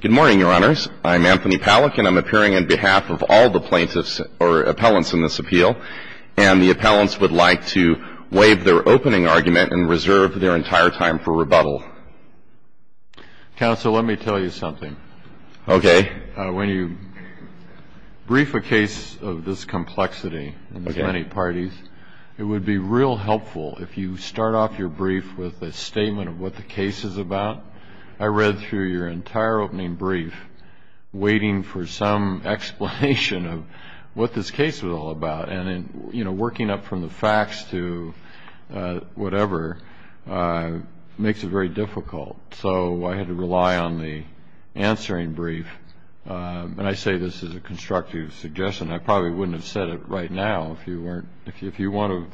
Good morning, Your Honors. I'm Anthony Pallack, and I'm appearing on behalf of all the plaintiffs or appellants in this appeal. And the appellants would like to waive their opening argument and reserve their entire time for rebuttal. Counsel, let me tell you something. Okay. When you brief a case of this complexity in this many parties, it would be real helpful if you start off your brief with a statement of what the case is about. I read through your entire opening brief waiting for some explanation of what this case was all about. And, you know, working up from the facts to whatever makes it very difficult. So I had to rely on the answering brief. And I say this as a constructive suggestion. I probably wouldn't have said it right now if you weren't if you want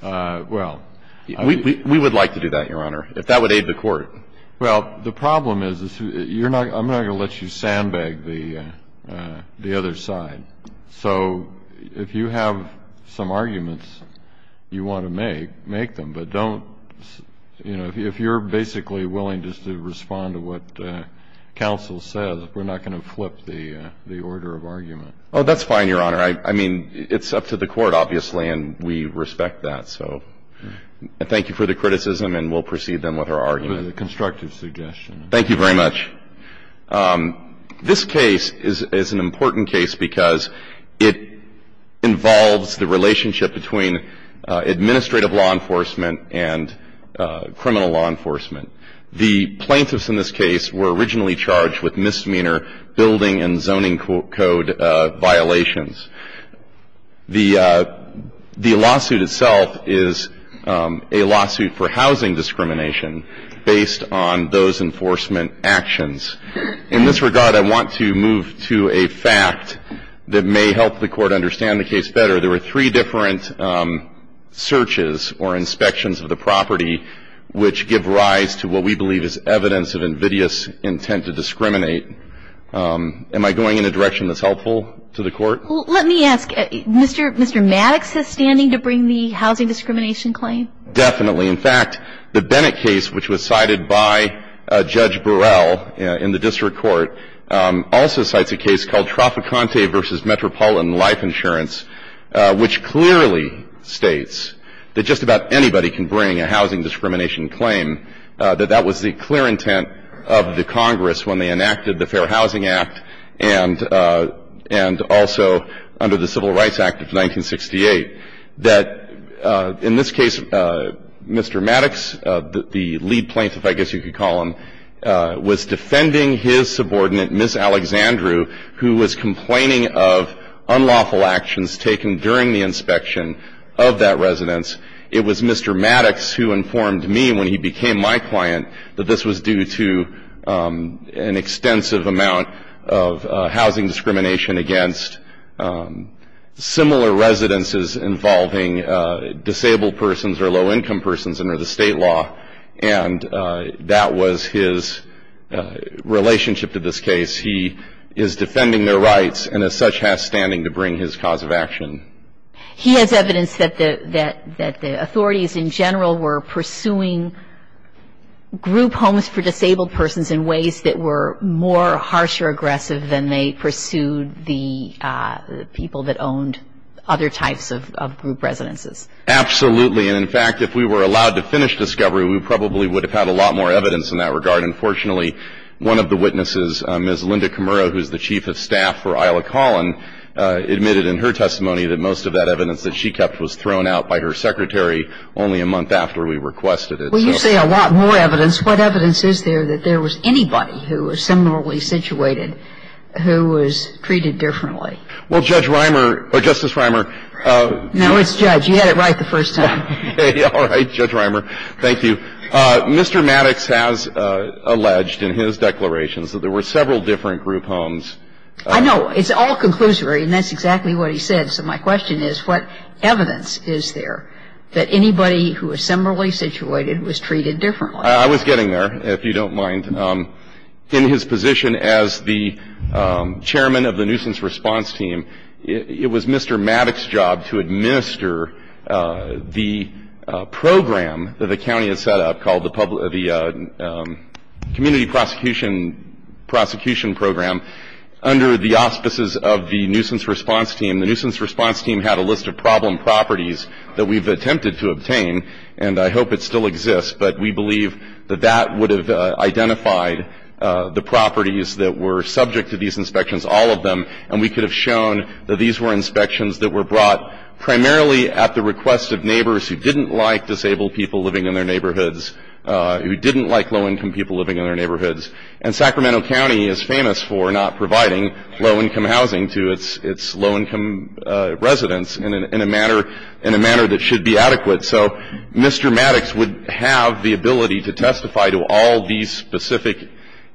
to. Well, we would like to do that, Your Honor, if that would aid the court. Well, the problem is I'm not going to let you sandbag the other side. So if you have some arguments you want to make, make them. But don't, you know, if you're basically willing just to respond to what counsel says, we're not going to flip the order of argument. Oh, that's fine, Your Honor. I mean, it's up to the court, obviously, and we respect that. So thank you for the criticism, and we'll proceed then with our argument. It was a constructive suggestion. Thank you very much. This case is an important case because it involves the relationship between administrative law enforcement and criminal law enforcement. The plaintiffs in this case were originally charged with misdemeanor building and zoning code violations. The lawsuit itself is a lawsuit for housing discrimination based on those enforcement actions. In this regard, I want to move to a fact that may help the Court understand the case better. There were three different searches or inspections of the property which give rise to what we believe is evidence of invidious intent to discriminate. Am I going in a direction that's helpful to the Court? Let me ask. Mr. Maddox is standing to bring the housing discrimination claim? Definitely. In fact, the Bennett case, which was cited by Judge Burrell in the district court, also cites a case called Tropicante v. Metropolitan Life Insurance, which clearly states that just about anybody can bring a housing discrimination claim, that that was the clear intent of the Congress when they enacted the Fair Housing Act and also under the Civil Rights Act of 1968. That in this case, Mr. Maddox, the lead plaintiff, I guess you could call him, was defending his subordinate, Ms. Alexandru, who was complaining of unlawful actions taken during the inspection of that residence. It was Mr. Maddox who informed me when he became my client that this was due to an extensive amount of housing discrimination against similar residences involving disabled persons or low-income persons under the State law, and that was his relationship to this case. He is defending their rights and as such has standing to bring his cause of action. He has evidence that the authorities in general were pursuing group homes for disabled persons in ways that were more harsh or aggressive than they pursued the people that owned other types of group residences. Absolutely. And, in fact, if we were allowed to finish discovery, we probably would have had a lot more evidence in that regard. And, fortunately, one of the witnesses, Ms. Linda Kimura, who is the chief of staff for Isla Collin, admitted in her testimony that most of that evidence that she kept was thrown out by her secretary only a month after we requested it. Well, you say a lot more evidence. What evidence is there that there was anybody who was similarly situated who was treated differently? Well, Judge Reimer or Justice Reimer. No, it's Judge. You had it right the first time. All right, Judge Reimer. Thank you. Mr. Maddox has alleged in his declarations that there were several different group homes. I know. It's all conclusory, and that's exactly what he said. So my question is what evidence is there that anybody who was similarly situated was treated differently? I was getting there, if you don't mind. In his position as the chairman of the nuisance response team, it was Mr. Maddox's job to administer the program that the county had set up called the community prosecution program. Under the auspices of the nuisance response team, the nuisance response team had a list of problem properties that we've attempted to obtain, and I hope it still exists, but we believe that that would have identified the properties that were subject to these inspections, all of them, and we could have shown that these were inspections that were brought primarily at the request of neighbors who didn't like disabled people living in their neighborhoods, who didn't like low-income people living in their neighborhoods. And Sacramento County is famous for not providing low-income housing to its low-income residents in a manner that should be adequate. So Mr. Maddox would have the ability to testify to all these specific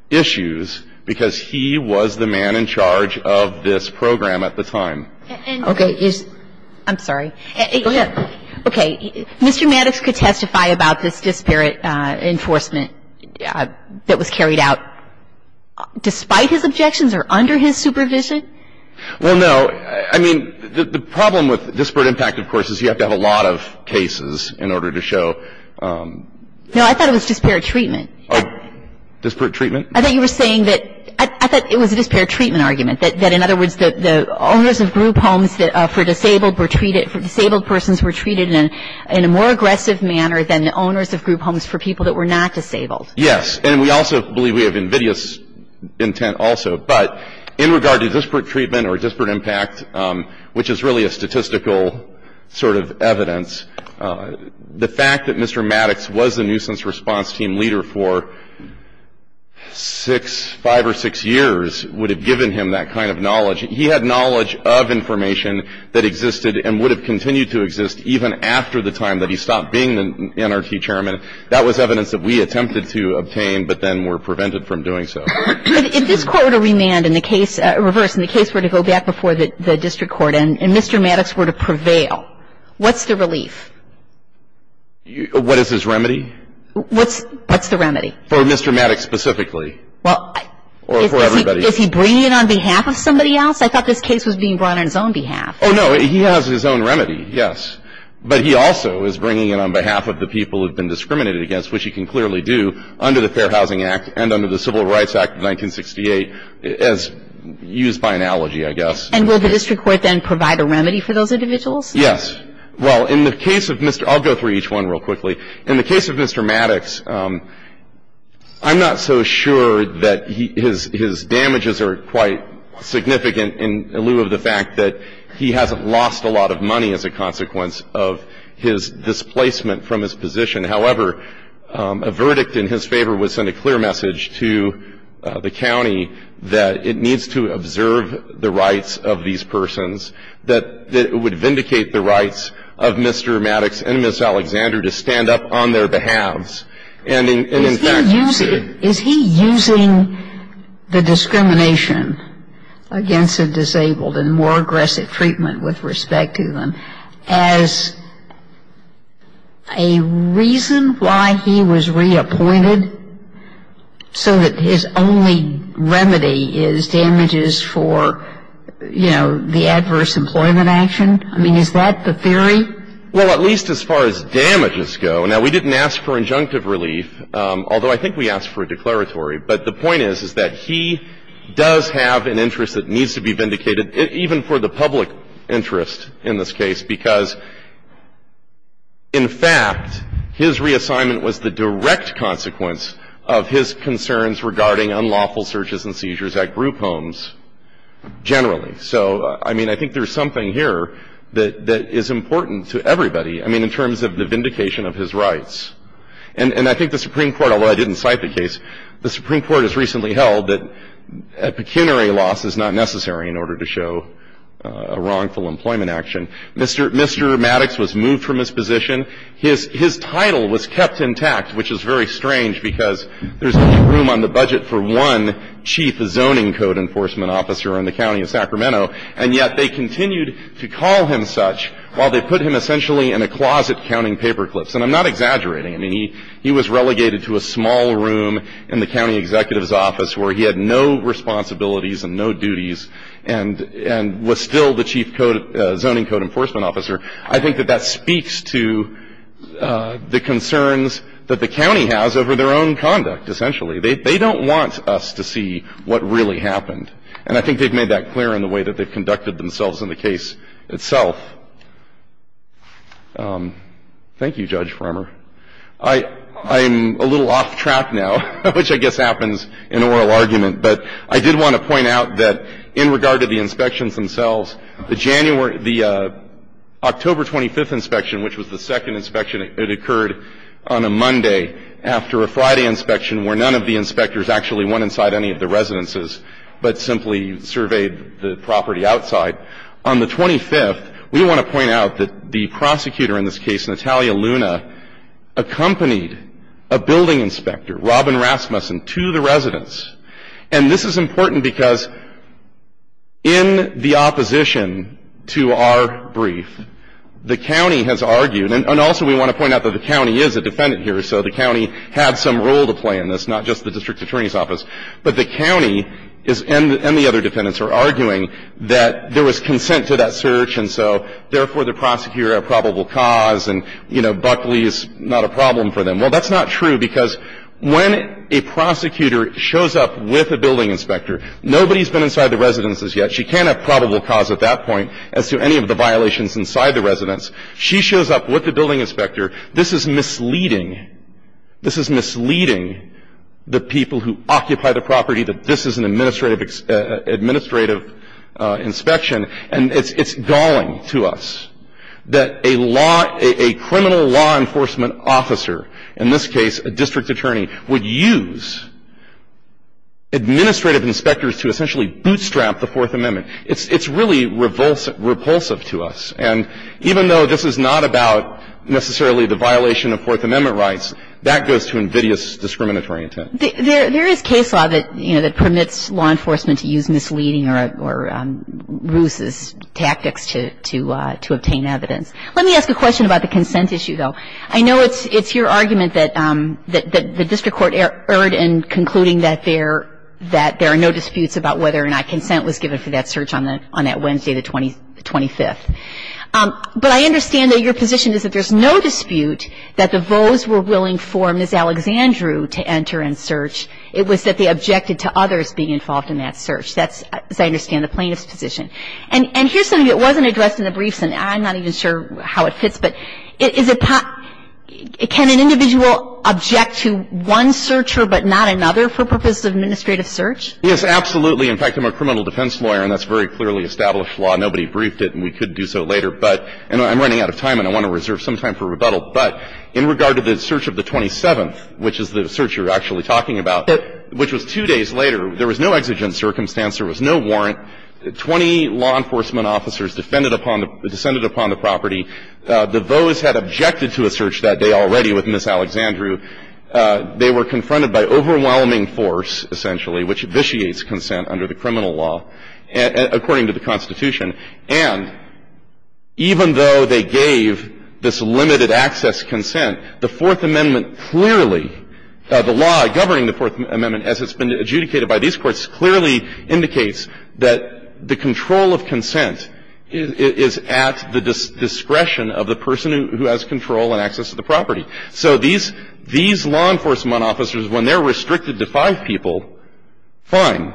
issues because he was the man in charge of this program at the time. Okay. I'm sorry. Go ahead. Okay. Mr. Maddox could testify about this disparate enforcement that was carried out despite his objections or under his supervision? Well, no. I mean, the problem with disparate impact, of course, is you have to have a lot of cases in order to show. No, I thought it was disparate treatment. Disparate treatment? I thought you were saying that – I thought it was a disparate treatment argument, that in other words the owners of group homes for disabled were treated – for disabled persons were treated in a more aggressive manner than the owners of group homes for people that were not disabled. Yes. And we also believe we have invidious intent also. But in regard to disparate treatment or disparate impact, which is really a statistical sort of evidence, the fact that Mr. Maddox was the nuisance response team leader for six, five or six years, would have given him that kind of knowledge. He had knowledge of information that existed and would have continued to exist even after the time that he stopped being the NRT chairman. That was evidence that we attempted to obtain but then were prevented from doing so. If this Court were to remand in the case – reverse, in the case were to go back before the district court and Mr. Maddox were to prevail, what's the relief? What is his remedy? What's the remedy? For Mr. Maddox specifically. Well, I – Or for everybody. Is he bringing it on behalf of somebody else? I thought this case was being brought on his own behalf. Oh, no. He has his own remedy, yes. But he also is bringing it on behalf of the people who have been discriminated against, which he can clearly do under the Fair Housing Act and under the Civil Rights Act of 1968 as used by analogy, I guess. And will the district court then provide a remedy for those individuals? Yes. Well, in the case of Mr. – I'll go through each one real quickly. In the case of Mr. Maddox, I'm not so sure that his damages are quite significant in lieu of the fact that he hasn't lost a lot of money as a consequence of his displacement from his position. However, a verdict in his favor would send a clear message to the county that it needs to observe the rights of these persons, that it would vindicate the rights of Mr. Maddox and Ms. Alexander to stand up on their behalves. And in fact, it should. Is he using the discrimination against the disabled and more aggressive treatment with respect to them as a reason why he was reappointed so that his only remedy is damages for, you know, the adverse employment action? I mean, is that the theory? Well, at least as far as damages go. Now, we didn't ask for injunctive relief, although I think we asked for a declaratory. But the point is, is that he does have an interest that needs to be vindicated, even for the public interest in this case, because, in fact, his reassignment was the direct consequence of his concerns regarding unlawful searches and seizures at group homes generally. So, I mean, I think there's something here that is important to everybody. I mean, in terms of the vindication of his rights. And I think the Supreme Court, although I didn't cite the case, the Supreme Court has recently held that pecuniary loss is not necessary in order to show a wrongful employment action. Mr. Maddox was moved from his position. His title was kept intact, which is very strange because there's not room on the budget for one chief zoning code enforcement officer in the county of Sacramento, and yet they continued to call him such while they put him essentially in a closet counting paperclips. And I'm not exaggerating. I mean, he was relegated to a small room in the county executive's office where he had no responsibilities and no duties and was still the chief zoning code enforcement officer. I think that that speaks to the concerns that the county has over their own conduct, essentially. They don't want us to see what really happened. And I think they've made that clear in the way that they've conducted themselves in the case itself. Thank you, Judge Farmer. I'm a little off track now, which I guess happens in oral argument. But I did want to point out that in regard to the inspections themselves, the January the October 25th inspection, which was the second inspection, it occurred on a Monday after a Friday inspection where none of the inspectors actually went inside any of the buildings. They simply surveyed the property outside. On the 25th, we want to point out that the prosecutor in this case, Natalia Luna, accompanied a building inspector, Robin Rasmussen, to the residence. And this is important because in the opposition to our brief, the county has argued, and also we want to point out that the county is a defendant here, so the county had some role to play in this, not just the district attorney's office. But the county is, and the other defendants, are arguing that there was consent to that search, and so, therefore, the prosecutor had a probable cause, and, you know, Buckley is not a problem for them. Well, that's not true because when a prosecutor shows up with a building inspector, nobody's been inside the residences yet. She can't have probable cause at that point as to any of the violations inside the residence. She shows up with the building inspector. This is misleading. This is misleading the people who occupy the property that this is an administrative inspection, and it's galling to us that a law, a criminal law enforcement officer, in this case a district attorney, would use administrative inspectors to essentially bootstrap the Fourth Amendment. It's really repulsive to us. And even though this is not about necessarily the violation of Fourth Amendment rights, that goes to invidious discriminatory intent. There is case law that, you know, that permits law enforcement to use misleading or ruses tactics to obtain evidence. Let me ask a question about the consent issue, though. I know it's your argument that the district court erred in concluding that there are no disputes about whether or not consent was given for that search on that Wednesday the 25th. But I understand that your position is that there's no dispute that the votes were willing for Ms. Alexandru to enter and search. It was that they objected to others being involved in that search. That's, as I understand, the plaintiff's position. And here's something that wasn't addressed in the briefs, and I'm not even sure how it fits, but is it – can an individual object to one searcher but not another for purposes of administrative search? Yes, absolutely. In fact, I'm a criminal defense lawyer, and that's very clearly established law. Nobody briefed it, and we could do so later. But – and I'm running out of time, and I want to reserve some time for rebuttal. But in regard to the search of the 27th, which is the search you're actually talking about, which was two days later, there was no exigent circumstance. There was no warrant. Twenty law enforcement officers defended upon the – descended upon the property. The votes had objected to a search that day already with Ms. Alexandru. They were confronted by overwhelming force, essentially, which vitiates consent under the criminal law according to the Constitution. And even though they gave this limited access consent, the Fourth Amendment clearly – the law governing the Fourth Amendment as it's been adjudicated by these courts clearly indicates that the control of consent is at the discretion of the person who has control and access to the property. So these – these law enforcement officers, when they're restricted to five people, fine.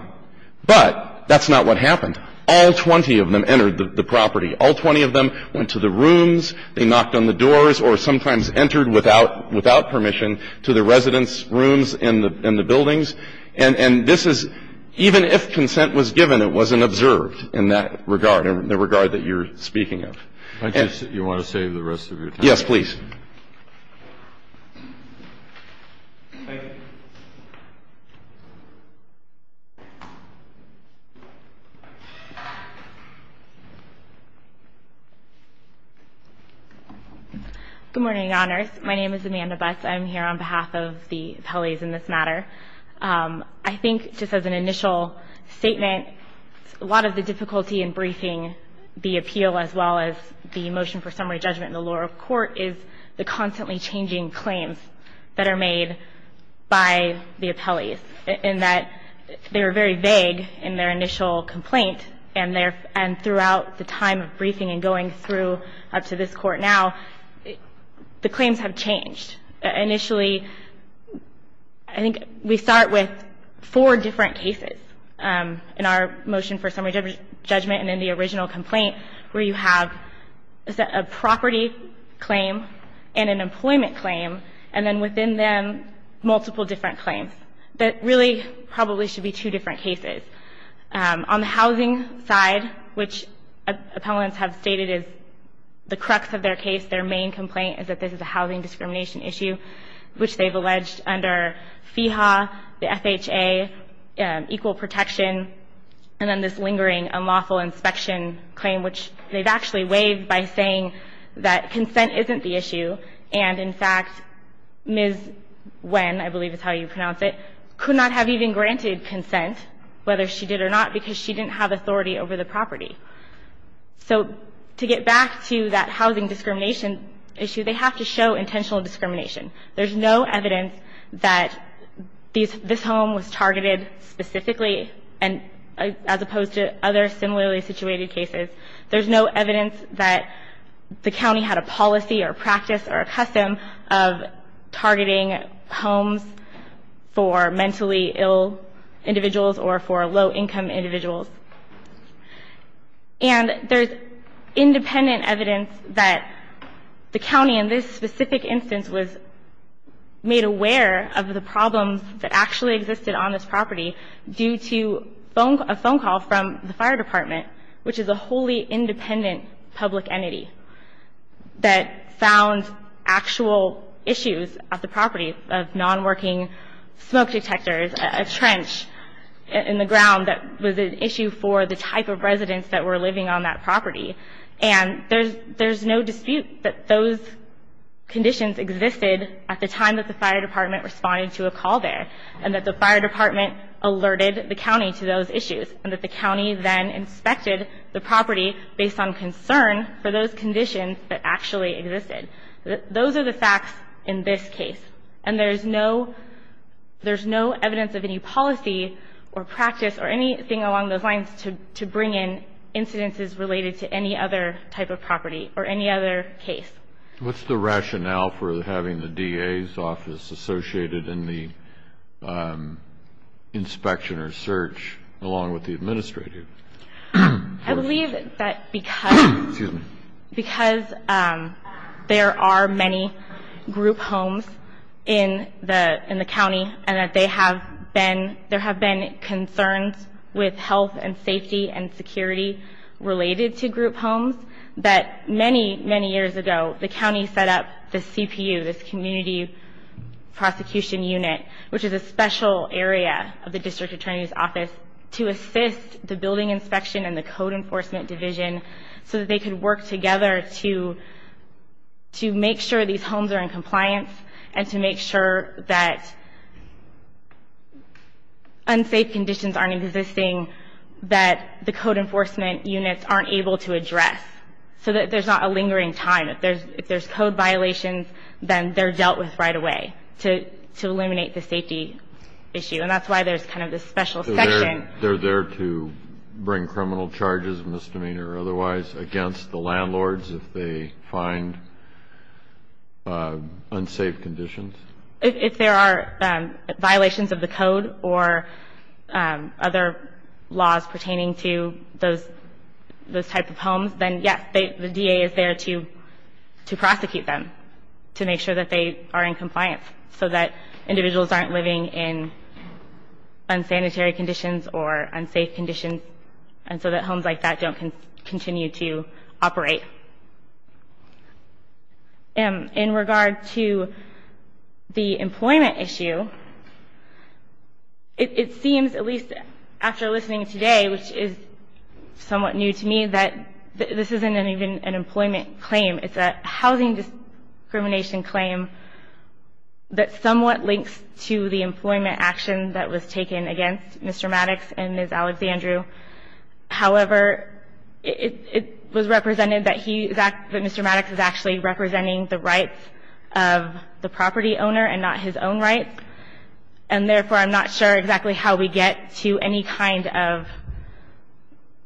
But that's not what happened. All 20 of them entered the property. All 20 of them went to the rooms. They knocked on the doors or sometimes entered without – without permission to the residents' rooms and the – and the buildings. And this is – even if consent was given, it wasn't observed in that regard, in the regard that you're speaking of. And you want to save the rest of your time? Yes, please. Thank you. Good morning, Your Honors. My name is Amanda Butts. I'm here on behalf of the appellees in this matter. I think, just as an initial statement, a lot of the difficulty in briefing the appeal as well as the motion for summary judgment and the law of court is the constantly changing claims that are made by the appellees, in that they were very vague in their initial complaint and their – and throughout the time of briefing and going through up to this court now, the claims have changed. Initially, I think we start with four different cases in our motion for summary judgment and in the original complaint where you have a property claim and an employment claim and then within them multiple different claims. That really probably should be two different cases. On the housing side, which appellants have stated is the crux of their case, their main complaint is that this is a housing discrimination issue, which they've alleged under FEHA, the FHA, equal protection, and then this lingering unlawful inspection claim, which they've actually waived by saying that consent isn't the issue. And, in fact, Ms. Nguyen, I believe is how you pronounce it, could not have even granted consent, whether she did or not, because she didn't have authority over the property. So to get back to that housing discrimination issue, they have to show intentional discrimination. There's no evidence that this home was targeted specifically as opposed to other similarly situated cases. There's no evidence that the county had a policy or practice or a custom of targeting homes for mentally ill individuals or for low-income individuals. And there's independent evidence that the county in this specific instance was made aware of the problems that actually existed on this property due to a phone call from the fire department, which is a wholly independent public entity, that found actual issues at the property of non-working smoke detectors, a trench in the ground that was an issue for the type of residents that were living on that property. And there's no dispute that those conditions existed at the time that the fire department responded to a call there and that the fire department alerted the county to those issues and that the county then inspected the property based on concern for those conditions that actually existed. Those are the facts in this case. And there's no evidence of any policy or practice or anything along those lines to bring in incidences related to any other type of property or any other case. What's the rationale for having the DA's office associated in the inspection or search along with the administrative? I believe that because there are many group homes in the county and that there have been concerns with health and safety and security related to group homes, that many, many years ago the county set up the CPU, this community prosecution unit, to assist the building inspection and the code enforcement division so that they could work together to make sure these homes are in compliance and to make sure that unsafe conditions aren't existing, that the code enforcement units aren't able to address so that there's not a lingering time. If there's code violations, then they're dealt with right away to eliminate the safety issue. And that's why there's kind of this special section. So they're there to bring criminal charges, misdemeanor or otherwise, against the landlords if they find unsafe conditions? If there are violations of the code or other laws pertaining to those type of homes, then, yes, the DA is there to prosecute them to make sure that they are in compliance so that individuals aren't living in unsanitary conditions or unsafe conditions and so that homes like that don't continue to operate. In regard to the employment issue, it seems, at least after listening today, which is somewhat new to me, that this isn't even an employment claim. It's a housing discrimination claim that somewhat links to the employment action that was taken against Mr. Maddox and Ms. Alexandru. However, it was represented that Mr. Maddox is actually representing the rights of the property owner and not his own rights, and therefore I'm not sure exactly how we get to any kind of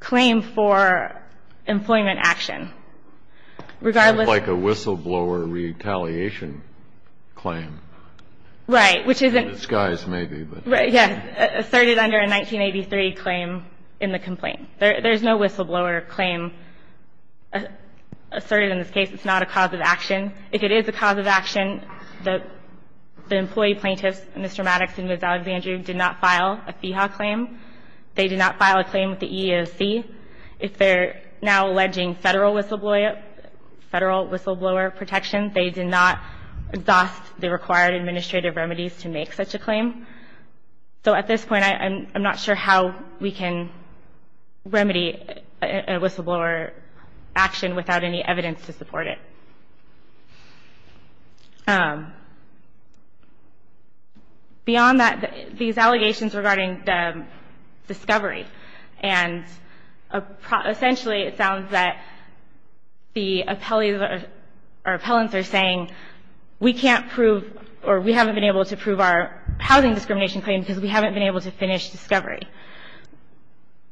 claim for employment action. Regardless... It's like a whistleblower retaliation claim. Right, which isn't... In disguise, maybe, but... Right, yes. Asserted under a 1983 claim in the complaint. There's no whistleblower claim asserted in this case. It's not a cause of action. If it is a cause of action, the employee plaintiffs, Mr. Maddox and Ms. Alexandru, did not file a FEHA claim. They did not file a claim with the EEOC. If they're now alleging federal whistleblower protection, they did not exhaust the required administrative remedies to make such a claim. So at this point, I'm not sure how we can remedy a whistleblower action without any evidence to support it. Beyond that, these allegations regarding the discovery and essentially it sounds that the appellants are saying, we can't prove or we haven't been able to prove our housing discrimination claim because we haven't been able to finish discovery.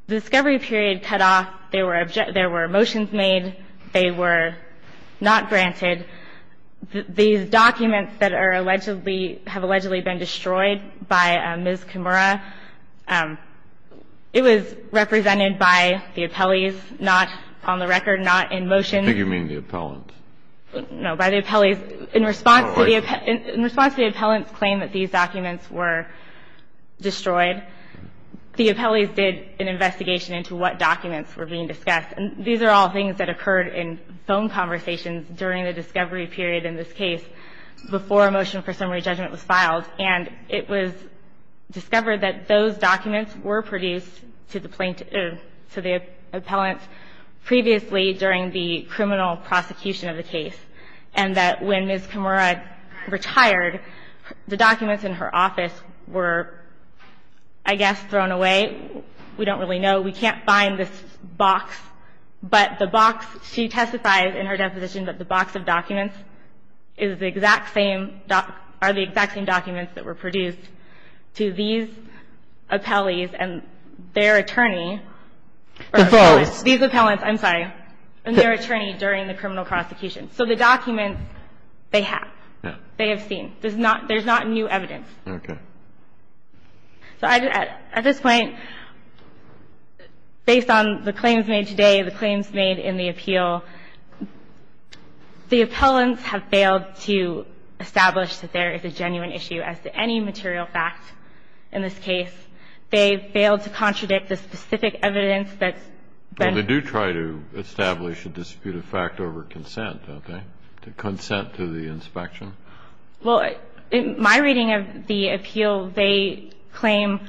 The discovery period cut off. There were motions made. They were not granted. These documents that have allegedly been destroyed by Ms. Kimura, it was represented by the appellees, not on the record, not in motion. I think you mean the appellants. No. By the appellees. In response to the appellants' claim that these documents were destroyed, the appellees did an investigation into what documents were being discussed. And these are all things that occurred in phone conversations during the discovery period in this case before a motion for summary judgment was filed. And it was discovered that those documents were produced to the plaintiffs or to the appellants previously during the criminal prosecution of the case. And that when Ms. Kimura retired, the documents in her office were, I guess, thrown away. We don't really know. We can't find this box. But the box, she testified in her deposition that the box of documents is the exact same documents that were produced to these appellees and their attorney. The appellees. These appellants. I'm sorry. And their attorney during the criminal prosecution. So the documents, they have. They have seen. There's not new evidence. Okay. So at this point, based on the claims made today, the claims made in the appeal, the appellants have failed to establish that there is a genuine issue as to any material fact in this case. They failed to contradict the specific evidence that's been. Well, they do try to establish a disputed fact over consent, don't they? Consent to the inspection. Well, in my reading of the appeal, they claim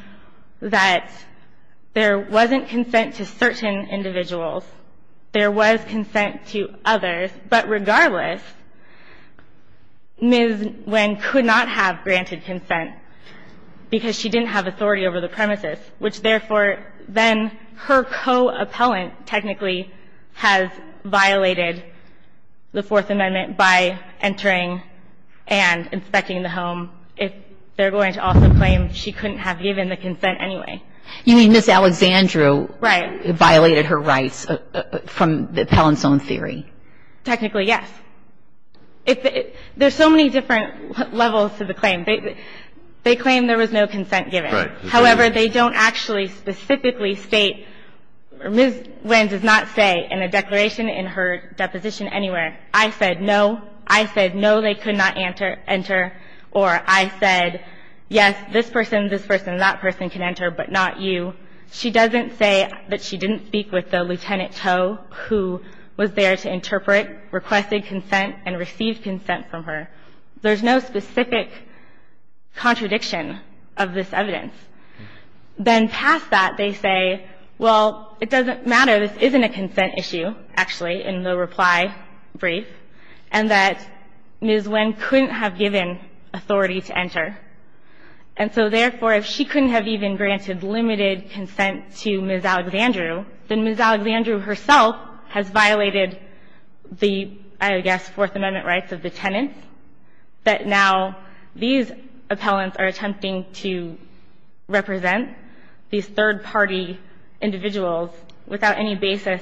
that there wasn't consent to certain individuals. There was consent to others. But regardless, Ms. Nguyen could not have granted consent because she didn't have authority over the premises, which, therefore, then her co-appellant technically has violated the Fourth Amendment by entering and inspecting the home. They're going to also claim she couldn't have given the consent anyway. You mean Ms. Alexandru. Right. Violated her rights from the appellant's own theory. Technically, yes. There's so many different levels to the claim. They claim there was no consent given. Right. However, they don't actually specifically state, Ms. Nguyen does not say in a declaration in her deposition anywhere, I said no, I said no, they could not enter, or I said yes, this person, this person, that person can enter, but not you. She doesn't say that she didn't speak with the Lieutenant To, who was there to interpret, requested consent and received consent from her. There's no specific contradiction of this evidence. Then past that, they say, well, it doesn't matter, this isn't a consent issue, actually, in the reply brief, and that Ms. Nguyen couldn't have given authority to enter. And so, therefore, if she couldn't have even granted limited consent to Ms. Alexandru, then Ms. Alexandru herself has violated the, I guess, Fourth Amendment rights of the tenants, that now these appellants are attempting to represent these third-party individuals without any basis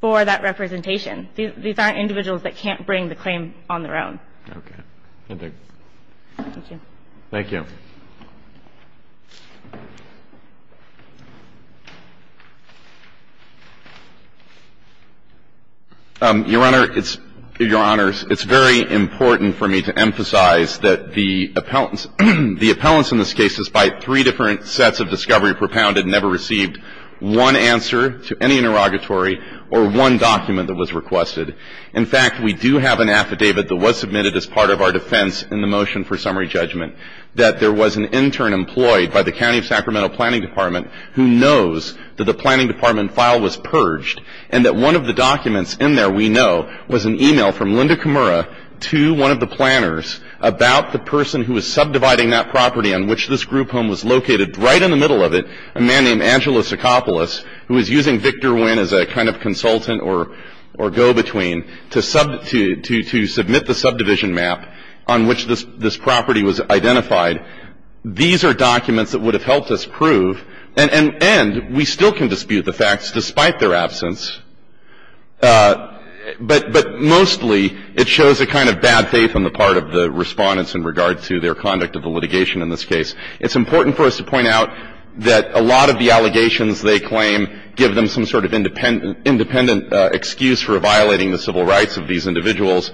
for that representation. These aren't individuals that can't bring the claim on their own. Okay. Thank you. Thank you. Your Honor, it's very important for me to emphasize that the appellants in this case, despite three different sets of discovery propounded, never received one answer to any interrogatory or one document that was requested. In fact, we do have an affidavit that was submitted as part of our defense in the motion for summary judgment, that there was an intern employed by the County of Sacramento Planning Department who knows that the planning department file was purged, and that one of the documents in there we know was an email from Linda Kimura to one of the planners about the person who was subdividing that property on which this group home was located, right in the middle of it, a man named Angelo Socopolis, who was using Victor Nguyen as a kind of consultant or go-between to submit the subdivision map on which this property was identified. These are documents that would have helped us prove, and we still can dispute the facts despite their absence, but mostly it shows a kind of bad faith on the part of the Respondents in regard to their conduct of the litigation in this case. It's important for us to point out that a lot of the allegations they claim give them some sort of independent excuse for violating the civil rights of these individuals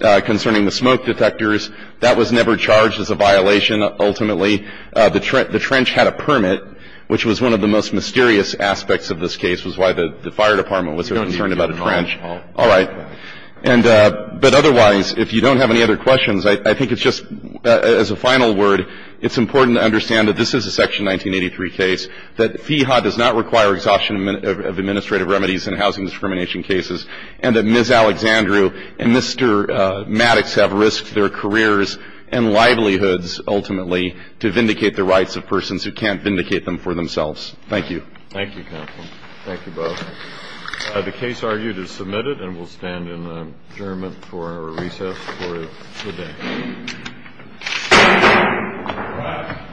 concerning the smoke detectors. That was never charged as a violation, ultimately. The trench had a permit, which was one of the most mysterious aspects of this case, was why the fire department was concerned about the trench. All right. But otherwise, if you don't have any other questions, I think it's just, as a final word, it's important to understand that this is a Section 1983 case, that FEHA does not require exhaustion of administrative remedies in housing discrimination cases, and that Ms. Alexandru and Mr. Maddox have risked their careers and livelihoods, ultimately, to vindicate the rights of persons who can't vindicate them for themselves. Thank you. Thank you, counsel. Thank you both. The case argued is submitted, and we'll stand adjournment for our recess for the day. All right.